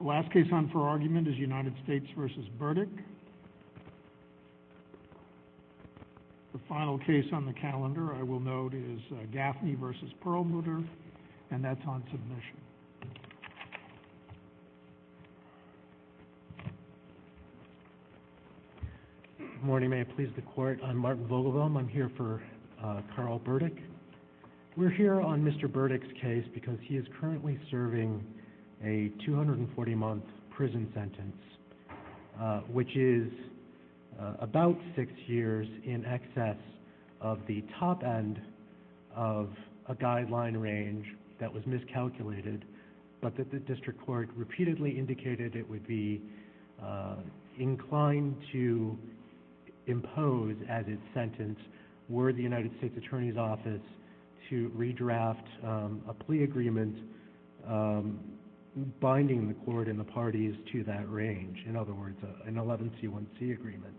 The last case on for argument is United States v. Burdick. The final case on the calendar I will note is Gaffney v. Perlmutter, and that's on submission. Good morning, may it please the Court. I'm Martin Vogelboom. I'm here for Carl Burdick. We're here on Mr. Burdick's case because he is currently serving a 240-month prison sentence, which is about six years in excess of the top end of a guideline range that was miscalculated, but that the District Court repeatedly indicated it would be inclined to impose as its sentence were the United States Attorney's Office to redraft a plea agreement binding the Court and the parties to that range, in other words, an 11C1C agreement.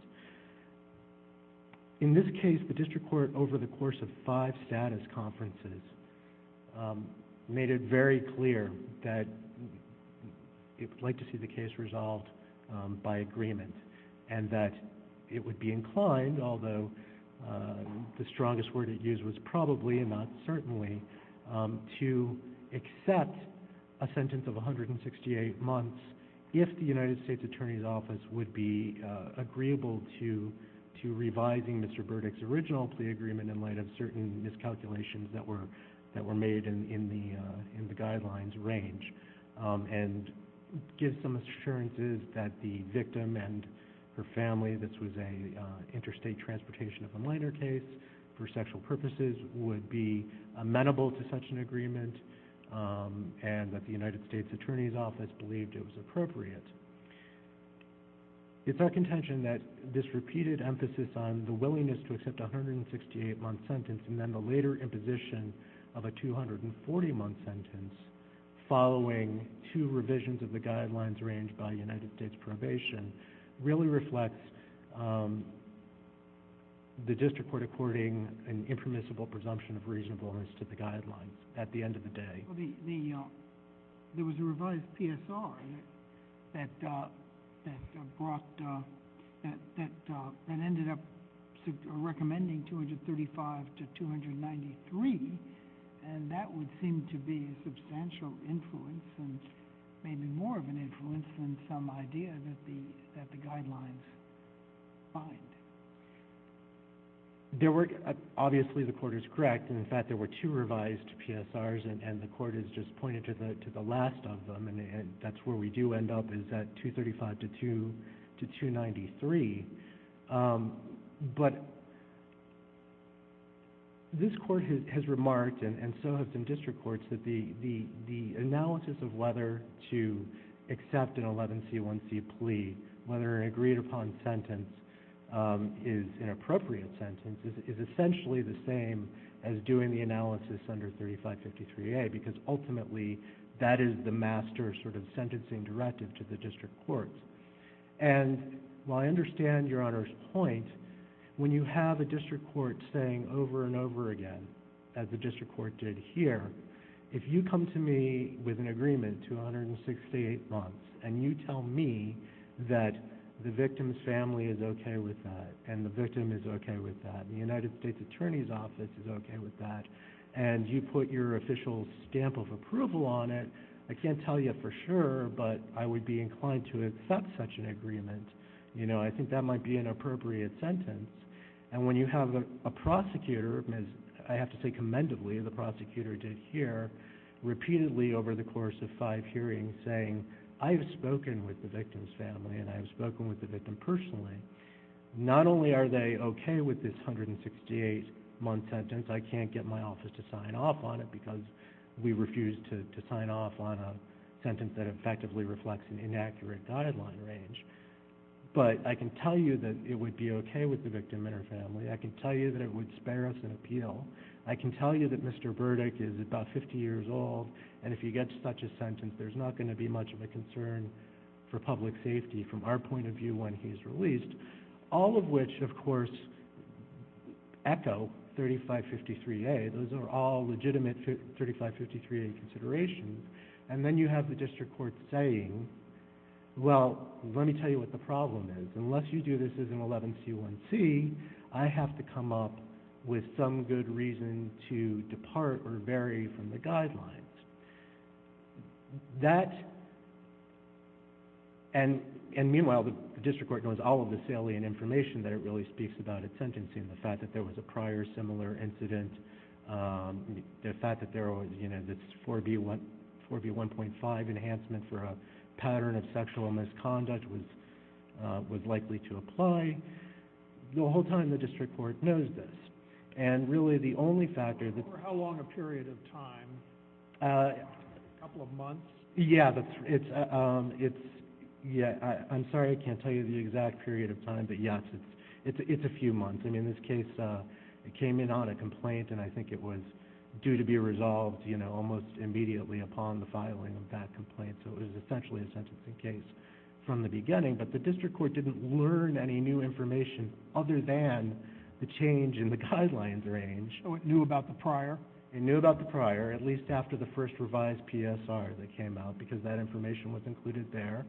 In this case, the District Court, over the course of five status conferences, made it very clear that it would like to see the case resolved by agreement and that it would be the strongest word it used was probably and not certainly to accept a sentence of 168 months if the United States Attorney's Office would be agreeable to revising Mr. Burdick's original plea agreement in light of certain miscalculations that were made in the guidelines range and give some assurances that the victim and her family, this was an interstate transportation of a minor case, for sexual purposes would be amenable to such an agreement and that the United States Attorney's Office believed it was appropriate. It's our contention that this repeated emphasis on the willingness to accept a 168-month sentence and then the later imposition of a 240-month sentence following two revisions of the guidelines range by United States probation really reflects the District Court according an impermissible presumption of reasonableness to the guidelines at the end of the day. There was a revised PSR that ended up recommending 235 to 293 and that would seem to be a substantial influence and maybe more of an that the guidelines find. There were obviously the court is correct and in fact there were two revised PSRs and the court has just pointed to the last of them and that's where we do end up is that 235 to 293 but this court has remarked and so have some District Courts that the analysis of whether to accept an 11C1C plea, whether an agreed upon sentence is an appropriate sentence is essentially the same as doing the analysis under 3553A because ultimately that is the master sort of sentencing directive to the District Courts and while I understand Your Honor's point, when you have a District Court saying over and over again as the District Court did here, if you come to me with an agreement 268 months and you tell me that the victim's family is okay with that and the victim is okay with that, the United States Attorney's Office is okay with that and you put your official stamp of approval on it, I can't tell you for sure but I would be inclined to accept such an agreement. You know, I think that might be an appropriate sentence and when you have a prosecutor, I have to say commendably, the prosecutor did here repeatedly over the course of five hearings saying I've spoken with the victim's family and I've spoken with the victim personally, not only are they okay with this 168 month sentence, I can't get my office to sign off on it because we refuse to sign off on a sentence that effectively reflects an inaccurate guideline range but I can tell you that it would be okay with the victim and her family, I can tell you that it would spare us an appeal, I can tell you that Mr. Burdick is about 50 years old and if you get such a sentence, there's not going to be much of a concern for public safety from our point of view when he's released, all of which of course echo 3553A, those are all legitimate 3553A considerations and then you have the district court saying, well, let me tell you what the problem is, unless you do this as an 11C1C, I have to come up with some good reason to depart or vary from the guidelines, that and meanwhile, the district court knows all of this alien information that it really speaks about its sentencing, the fact that there was a prior similar incident, the fact that there was this 4B1.5 enhancement for a pattern of sexual misconduct was likely to apply, the whole time the district court knows this and really the only factor that... For how long a period of time, a couple of months? Yeah, I'm sorry I can't tell you the exact period of time but yes, it's a few months, I mean in this case, it came in on a complaint and I think it was due to be resolved almost immediately upon the filing of that complaint so it was essentially a sentencing case from the beginning but the district court didn't learn any new information other than the change in the guidelines range. So it knew about the prior? It knew about the prior at least after the first revised PSR that came out because that information was included there,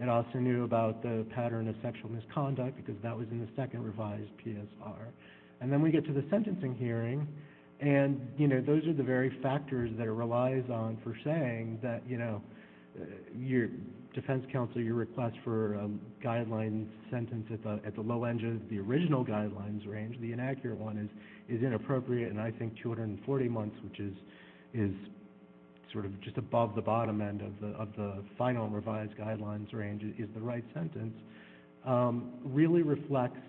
it also knew about the pattern of sexual misconduct because that was in the second revised PSR and then we get to the sentencing hearing and those are the very factors that it relies on for saying that your defense counsel, your request for a guideline sentence at the low end of the original guidelines range, the inaccurate one is inappropriate and I think 240 months which is sort of just above the bottom end of the final revised guidelines range is the right sentence, really reflects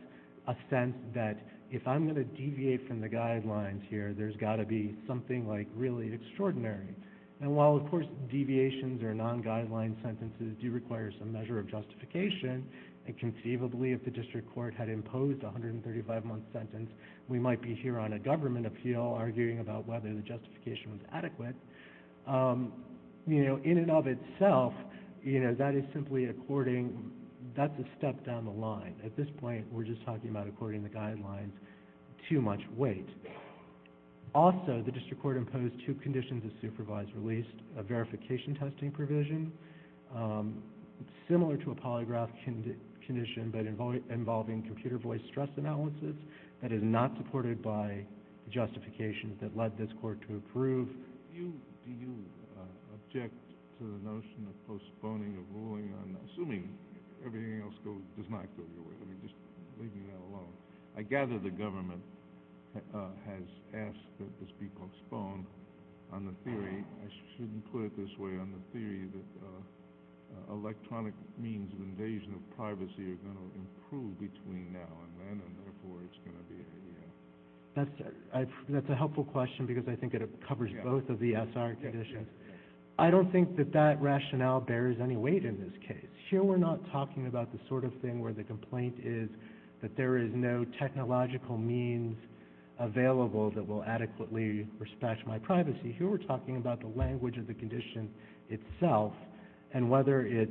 a sense that if I'm going to deviate from the guidelines here, there's got to be something like really extraordinary and while of course deviations or non-guideline sentences do require some measure of justification and conceivably if the district court had imposed a 135-month sentence, we might be here on a government appeal arguing about whether the justification was adequate, in and of itself, that is simply according, that's a step down the line. At this point, we're just talking about according to the guidelines, too much weight. Also, the district court imposed two conditions of supervised release, a verification testing provision similar to a polygraph condition but involving computer voice stress analysis that is not supported by the justifications that led this court to approve. Do you object to the notion of postponing a ruling on, assuming everything else does not go your way, I mean just leaving that alone, I gather the government has asked that this be postponed on the theory, I shouldn't put it this way, on the theory that electronic means of invasion of privacy are going to improve between now and then and therefore it's going to be a, yeah. That's a helpful question because I think it covers both of the ESR conditions. I don't think that that rationale bears any weight in this case. Here, we're not talking about the sort of thing where the complaint is that there is no technological means available that will adequately respect my privacy. Here, we're talking about the language of the condition itself and whether it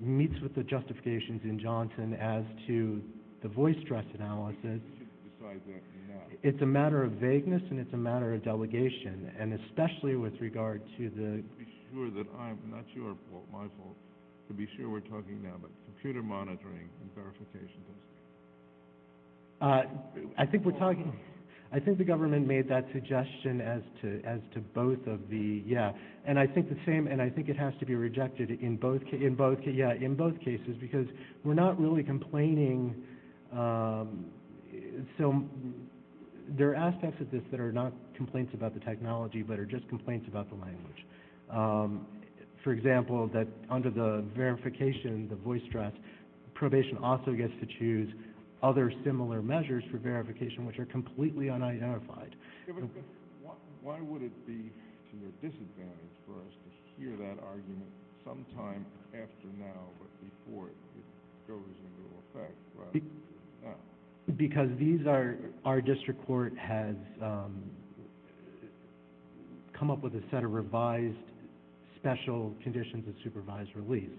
meets with the justifications in Johnson as to the voice stress analysis. You should decide that now. It's a matter of vagueness and it's a matter of delegation and especially with regard to the... To be sure that I'm, not your fault, my fault, to be sure we're talking now about computer monitoring and verification testing. I think we're talking, I think the government made that suggestion as to both of the, yeah, and I think the same and I think it has to be rejected in both, yeah, in both cases because we're not really complaining. So, there are aspects of this that are not complaints about the technology but are just complaints about the language. For example, that under the verification, the voice stress, probation also gets to choose other similar measures for verification which are completely unidentified. Why would it be to your disadvantage for us to hear that argument sometime after now but before it goes into effect? Because these are, our district court has come up with a set of revised special conditions of supervised release.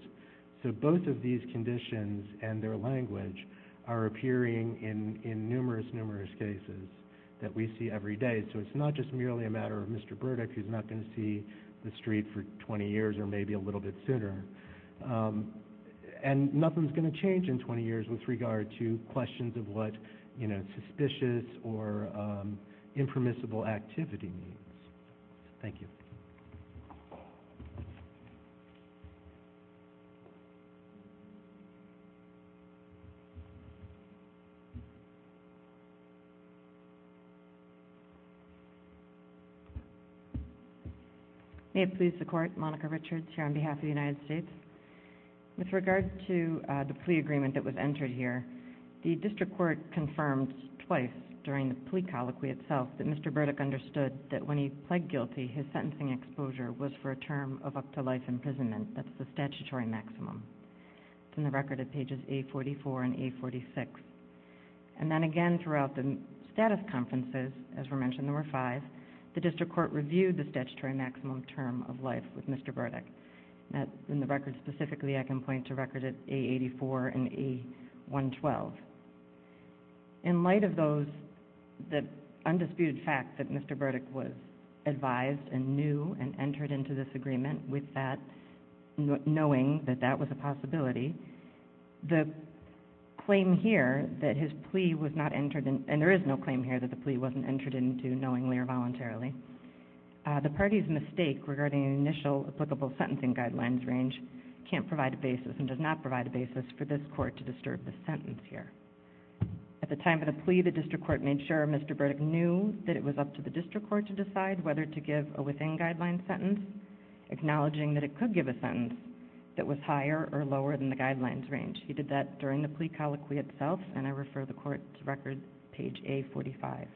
So, both of these conditions and their language are appearing in numerous, numerous cases that we see every day. So, it's not just merely a matter of Mr. Burdick who's not going to see the street for 20 years or maybe a little bit sooner and nothing's going to change in 20 years with regard to questions of what, you know, suspicious or impermissible activity means. Thank you. May it please the court, Monica Richards here on behalf of the United States. With regard to the plea agreement that was entered here, the district court confirmed twice during the plea colloquy itself that Mr. Burdick understood that when he pled guilty, his sentencing exposure was for a term of up to life imprisonment. That's the statutory maximum. It's in the record at pages A44 and A46. And then again throughout the status conferences, as were mentioned, there were five. The district court reviewed the statutory maximum term of life with Mr. Burdick. In the record specifically, I can point to records at A84 and A112. In light of those, the undisputed fact that Mr. Burdick was advised and knew and entered into this agreement with that, knowing that that was a possibility, the claim here that his plea was not entered in, and there is no claim here that the plea wasn't entered into knowingly or voluntarily. The party's mistake regarding the initial applicable sentencing guidelines range can't provide a basis and does not provide a basis for this court to disturb the sentence here. At the time of the plea, the district court made sure Mr. Burdick knew that it was up to the district court to decide whether to give a within guidelines sentence, acknowledging that it could give a sentence that was higher or lower than the guidelines range. He did that during the plea colloquy itself, and I refer the court to record page A45.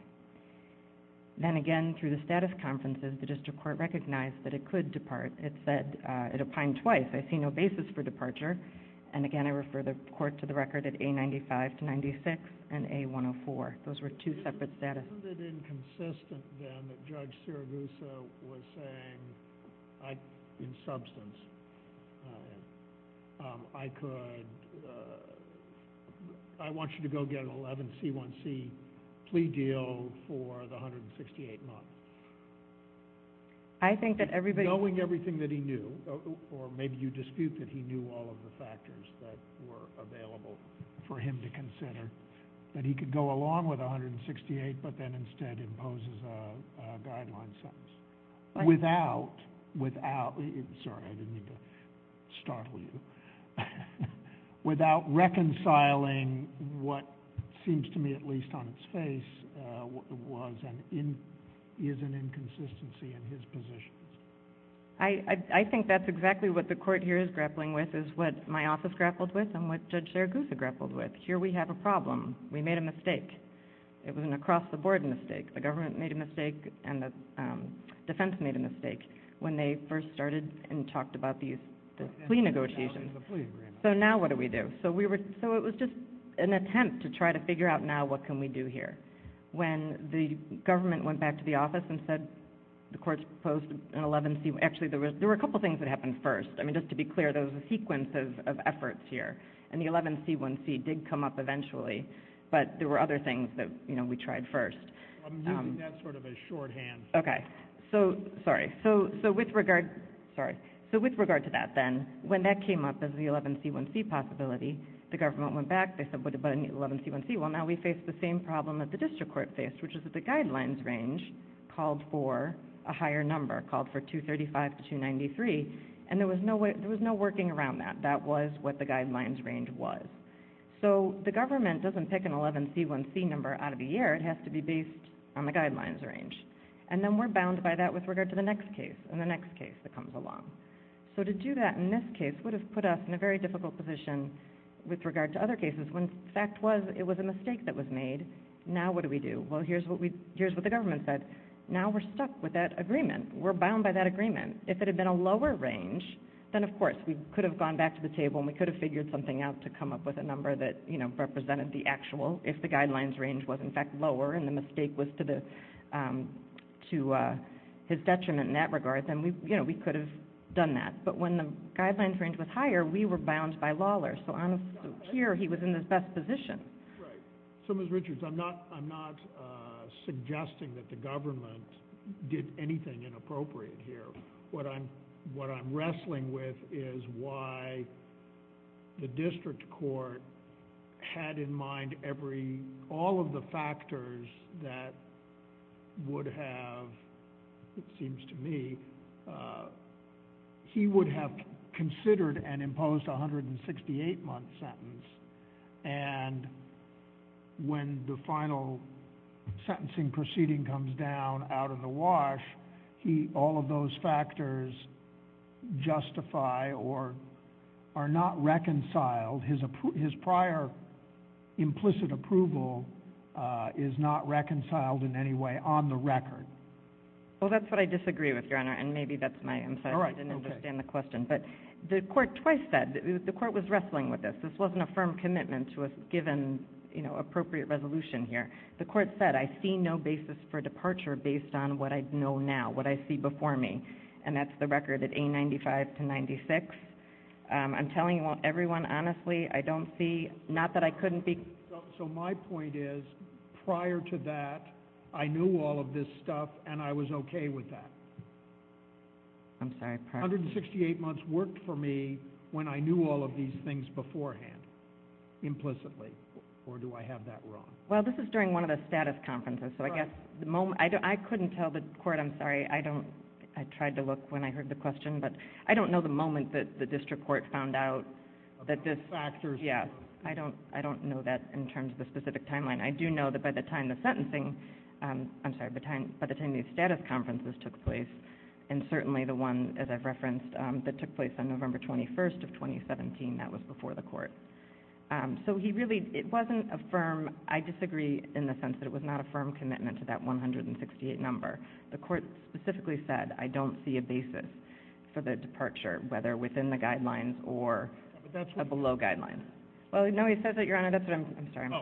Then again, through the status conferences, the district court recognized that it could depart. It said it opined twice. I see no basis for departure, and again, I refer the court to the record at A95 to 96 and A104. Those were two separate statuses. Is it inconsistent then that Judge Siragusa was saying, in substance, I want you to go get an 11C1C plea deal for the 168 months, knowing everything that he knew, or maybe you dispute that he knew all of the factors that were available for him to consider, that he could go along with 168, but then instead imposes a guideline sentence without reconciling what seems to me, at least on its face, is an inconsistency in his positions? I think that's exactly what the court here is grappling with, is what my office grappled with and what Judge Siragusa grappled with. Here we have a problem. We made a mistake. It was an across-the-board mistake. The government made a mistake, and the defense made a mistake when they first started and talked about these plea negotiations. So now what do we do? So it was just an attempt to try to figure out now what can we do here. When the government went back to the office and said the court proposed an 11C1C, actually, there were a couple of things that happened first. I mean, just to be clear, there was a sequence of efforts here, and the 11C1C did come up eventually, but there were other things that we tried first. I'm using that sort of as shorthand. Okay. So with regard to that then, when that came up as the 11C1C possibility, the government went back. They said, what about an 11C1C? Well, now we face the same problem that the district court faced, which is that the guidelines range called for a higher number, called for 235 to 293, and there was no working around that. That was what the guidelines range was. So the government doesn't pick an 11C1C number out of the air. It has to be based on the guidelines range. And then we're bound by that with regard to the next case and the next case that comes along. So to do that in this case would have put us in a very difficult position with regard to other cases when the fact was it was a mistake that was made. Now what do we do? Well, here's what the government said. Now we're stuck with that agreement. We're bound by that agreement. If it had been a lower range, then of course we could have gone back to the table and we could have figured something out to come up with a number that represented the actual if the guidelines range was in fact lower and the mistake was to his detriment in that regard, then we could have done that. But when the guidelines range was higher, we were bound by Lawler. So here he was in his best position. Right. So Ms. Richards, I'm not suggesting that the government did anything inappropriate here. What I'm wrestling with is why the district court had in mind all of the factors that would have, it seems to me, he would have considered and imposed a 168-month sentence. And when the final sentencing proceeding comes down out of the wash, all of those factors justify or are not reconciled. His prior implicit approval is not reconciled in any way on the record. Well, that's what I disagree with, Your Honor. And maybe that's my insight. I didn't understand the question. But the court twice said, the court was wrestling with this. This wasn't a firm commitment to a given appropriate resolution here. The court said, I see no basis for departure based on what I know now, what I see before me. And that's the record at A95 to 96. I'm telling everyone, honestly, I don't see, not that I couldn't be. So my point is, prior to that, I knew all of this stuff and I was OK with that. I'm sorry. 168 months worked for me when I knew all of these things beforehand, implicitly. Or do I have that wrong? Well, this is during one of the status conferences. So I guess the moment, I couldn't tell the court. I'm sorry. I don't, I tried to look when I heard the question, but I don't know the moment that the district court found out that this factors. Yeah, I don't know that in terms of the specific timeline. I do know that by the time the sentencing, I'm sorry, by the time these status conferences took place, and certainly the one, as I've referenced, that took place on November 21st of 2017, that was before the court. So he really, it wasn't a firm, I disagree in the sense that it was not a firm commitment to that 168 number. The court specifically said, I don't see a basis for the departure, whether within the guidelines or below guidelines. Well, no, he says that, Your Honor, that's what I'm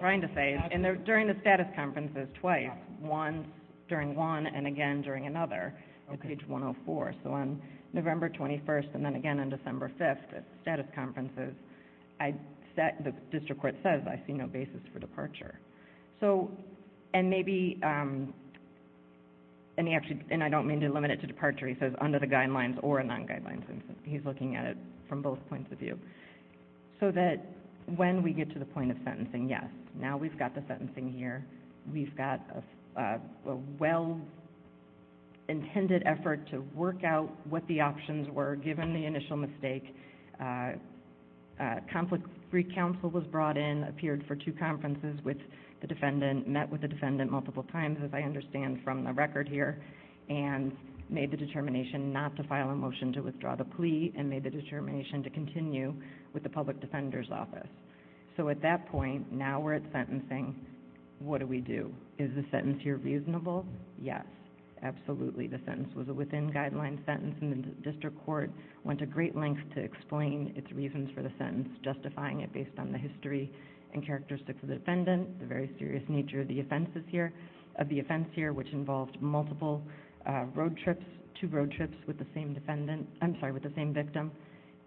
trying to say. During the status conferences twice, once during one and again during another, on page 104. So on November 21st and then again on December 5th at the status conferences, the district court says, I see no basis for departure. So, and maybe, and he actually, and I don't mean to limit it to departure, he says under the guidelines or non-guidelines. He's looking at it from both points of view. So that when we get to the point of sentencing, yes, now we've got the sentencing here. We've got a well-intended effort to work out what the options were given the initial mistake. Conflict re-counsel was brought in, appeared for two conferences with the defendant, met with the defendant multiple times, as I understand from the record here, and made the determination not to file a motion to withdraw the plea and made the determination to with the public defender's office. So at that point, now we're at sentencing, what do we do? Is the sentence here reasonable? Yes, absolutely. The sentence was a within-guidelines sentence and the district court went to great lengths to explain its reasons for the sentence, justifying it based on the history and characteristics of the defendant, the very serious nature of the offenses here, of the offense here, which involved multiple road trips, two road trips with the same defendant, I'm sorry, with the same victim.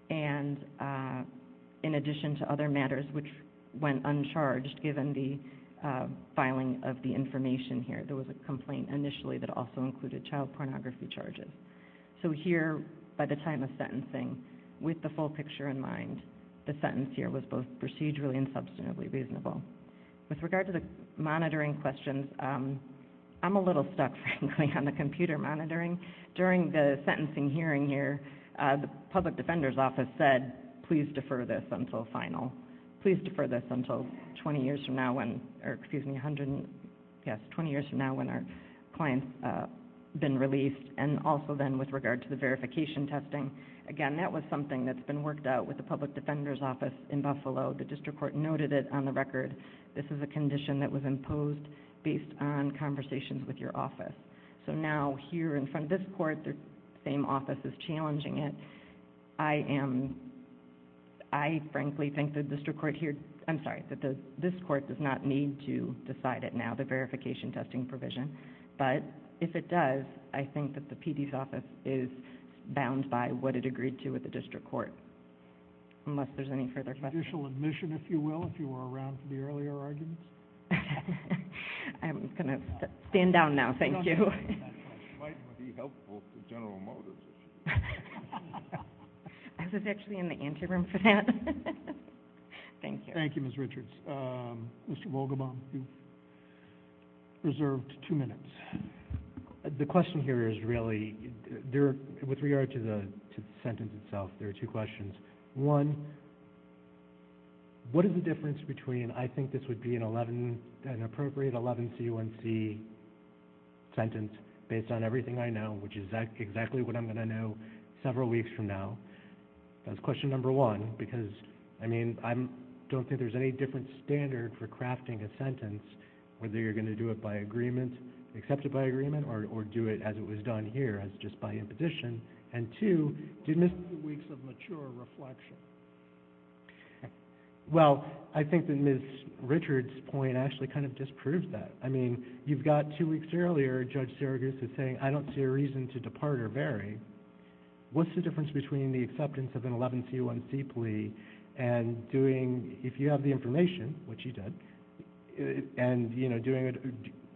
And in addition to other matters which went uncharged given the filing of the information here, there was a complaint initially that also included child pornography charges. So here, by the time of sentencing, with the full picture in mind, the sentence here was both procedurally and substantively reasonable. With regard to the monitoring questions, I'm a little stuck, frankly, on the computer monitoring. During the sentencing hearing here, the public defender's office said, please defer this until final. Please defer this until twenty years from now when our client's been released. And also then with regard to the verification testing, again, that was something that's been worked out with the public defender's office in Buffalo. The district court noted it on the record. This is a condition that was imposed based on conversations with your office. So now here in front of this court, the same office is challenging it. I am, I frankly think the district court here, I'm sorry, that this court does not need to decide it now, the verification testing provision. But if it does, I think that the PD's office is bound by what it agreed to with the district court. Unless there's any further questions. Judicial admission, if you will, if you were around for the earlier arguments. I'm going to stand down now. Thank you. Might be helpful for general motives. I was actually in the anteroom for that. Thank you. Thank you, Ms. Richards. Mr. Volgenbaum, you've reserved two minutes. The question here is really, with regard to the sentence itself, there are two questions. One, what is the difference between, I think this would be an appropriate 11C1C sentence based on everything I know, which is exactly what I'm going to know several weeks from now. That's question number one. Because, I mean, I don't think there's any different standard for crafting a sentence, whether you're going to do it by agreement, accept it by agreement, or do it as it was done here, as just by imposition. And two, do you miss the weeks of mature reflection? Well, I think that Ms. Richards' point actually kind of disproves that. I mean, you've got two weeks earlier, Judge Seragus is saying, I don't see a reason to depart or vary. What's the difference between the acceptance of an 11C1C plea and doing, if you have the information, which you did, and, you know, doing it,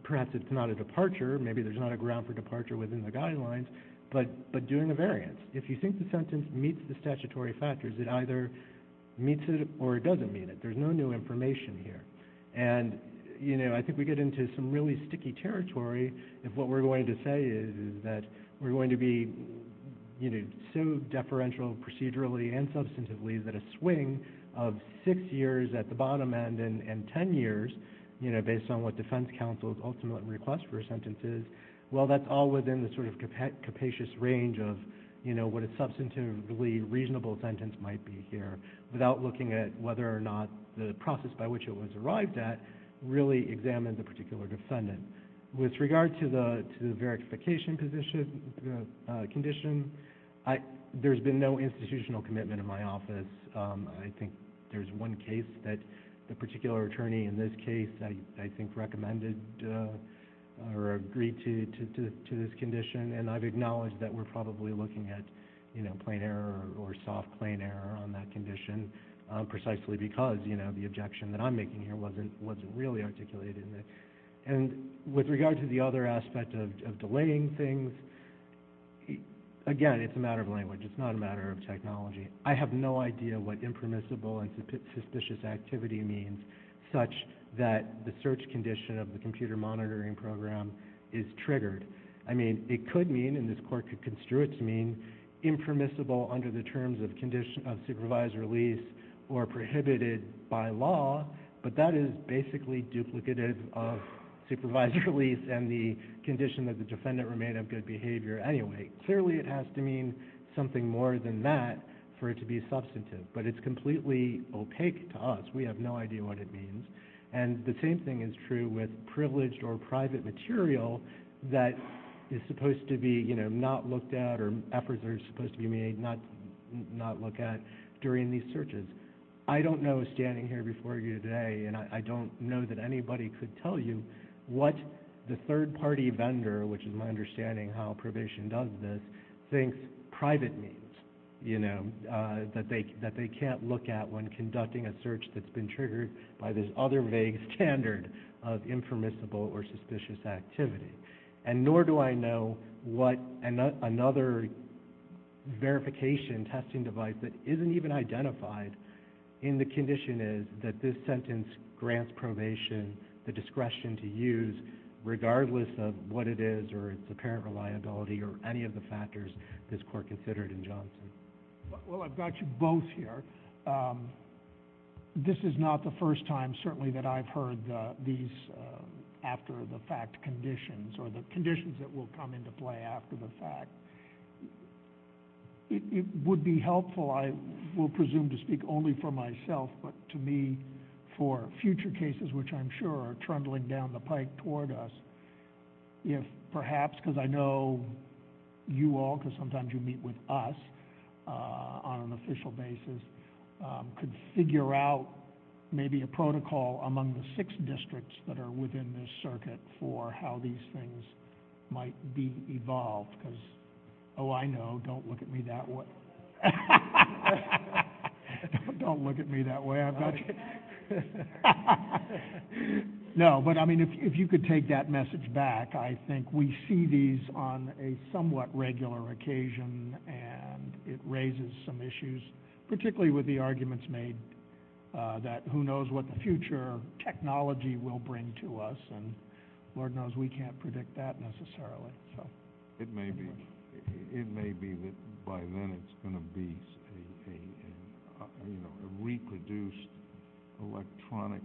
perhaps it's not a departure, maybe there's not a ground for departure within the guidelines, but doing a variance. If you think the sentence meets the statutory factors, it either meets it or it doesn't meet it. There's no new information here. And, you know, I think we get into some really sticky territory if what we're going to say is that we're going to be, you know, so deferential procedurally and substantively that a swing of six years at the bottom end and 10 years, you know, based on what defense counsels ultimately request for sentences, well, that's all within the sort of capacious range of, you know, what a substantively reasonable sentence might be here, without looking at whether or not the process by which it was arrived at really examined the particular defendant. With regard to the verification condition, there's been no institutional commitment in my office. I think there's one case that the particular attorney in this case, I think, recommended or agreed to this condition, and I've acknowledged that we're probably looking at, you know, plain error or soft plain error on that condition, precisely because, you know, the objection that I'm making here wasn't really articulated in it. And with regard to the other aspect of delaying things, again, it's a matter of language. It's not a matter of technology. I have no idea what impermissible and suspicious activity means such that the search condition of the computer monitoring program is triggered. I mean, it could mean, and this Court could construe it to mean impermissible under the terms of condition of supervised release or prohibited by law, but that is basically duplicative of supervised release and the condition that the defendant remained of good behavior anyway. Clearly, it has to mean something more than that for it to be substantive, but it's completely opaque to us. We have no idea what it means. And the same thing is true with privileged or private material that is supposed to be, you know, not looked at or efforts are supposed to be made not look at during these searches. I don't know standing here before you today, and I don't know that anybody could tell you what the third-party vendor, which is my understanding how probation does this, thinks private means, you know, that they can't look at when conducting a search that's been triggered by this other vague standard of impermissible or suspicious activity. And nor do I know what another verification testing device that isn't even identified in the condition is that this sentence grants probation the discretion to use regardless of what it is or its apparent reliability or any of the factors this Court considered in Johnson. Well, I've got you both here. This is not the first time, certainly, that I've heard these after-the-fact conditions or the conditions that will come into play after the fact. It would be helpful, I will presume to speak only for myself, but to me for future cases, which I'm sure are trundling down the pike toward us, if perhaps, because I know you all, because sometimes you meet with us on an official basis, could figure out maybe a protocol among the six districts that are within this circuit for how these things might be evolved, because, oh, I know, don't look at me that way. Don't look at me that way. I've got you. No, but I mean, if you could take that message back, I think we see these on a somewhat regular occasion, and it raises some issues, particularly with the arguments made that who knows what the future technology will bring to us, and Lord knows we can't predict that necessarily. It may be that by then it's going to be a reproduced electronic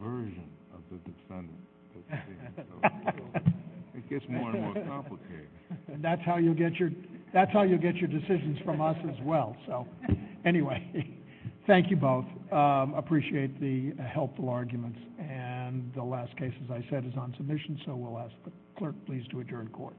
version of the defendant. It gets more and more complicated. That's how you'll get your decisions from us as well. Anyway, thank you both. Appreciate the helpful arguments, and the last case, as I said, is on submission, so we'll ask the clerk, please, to adjourn court.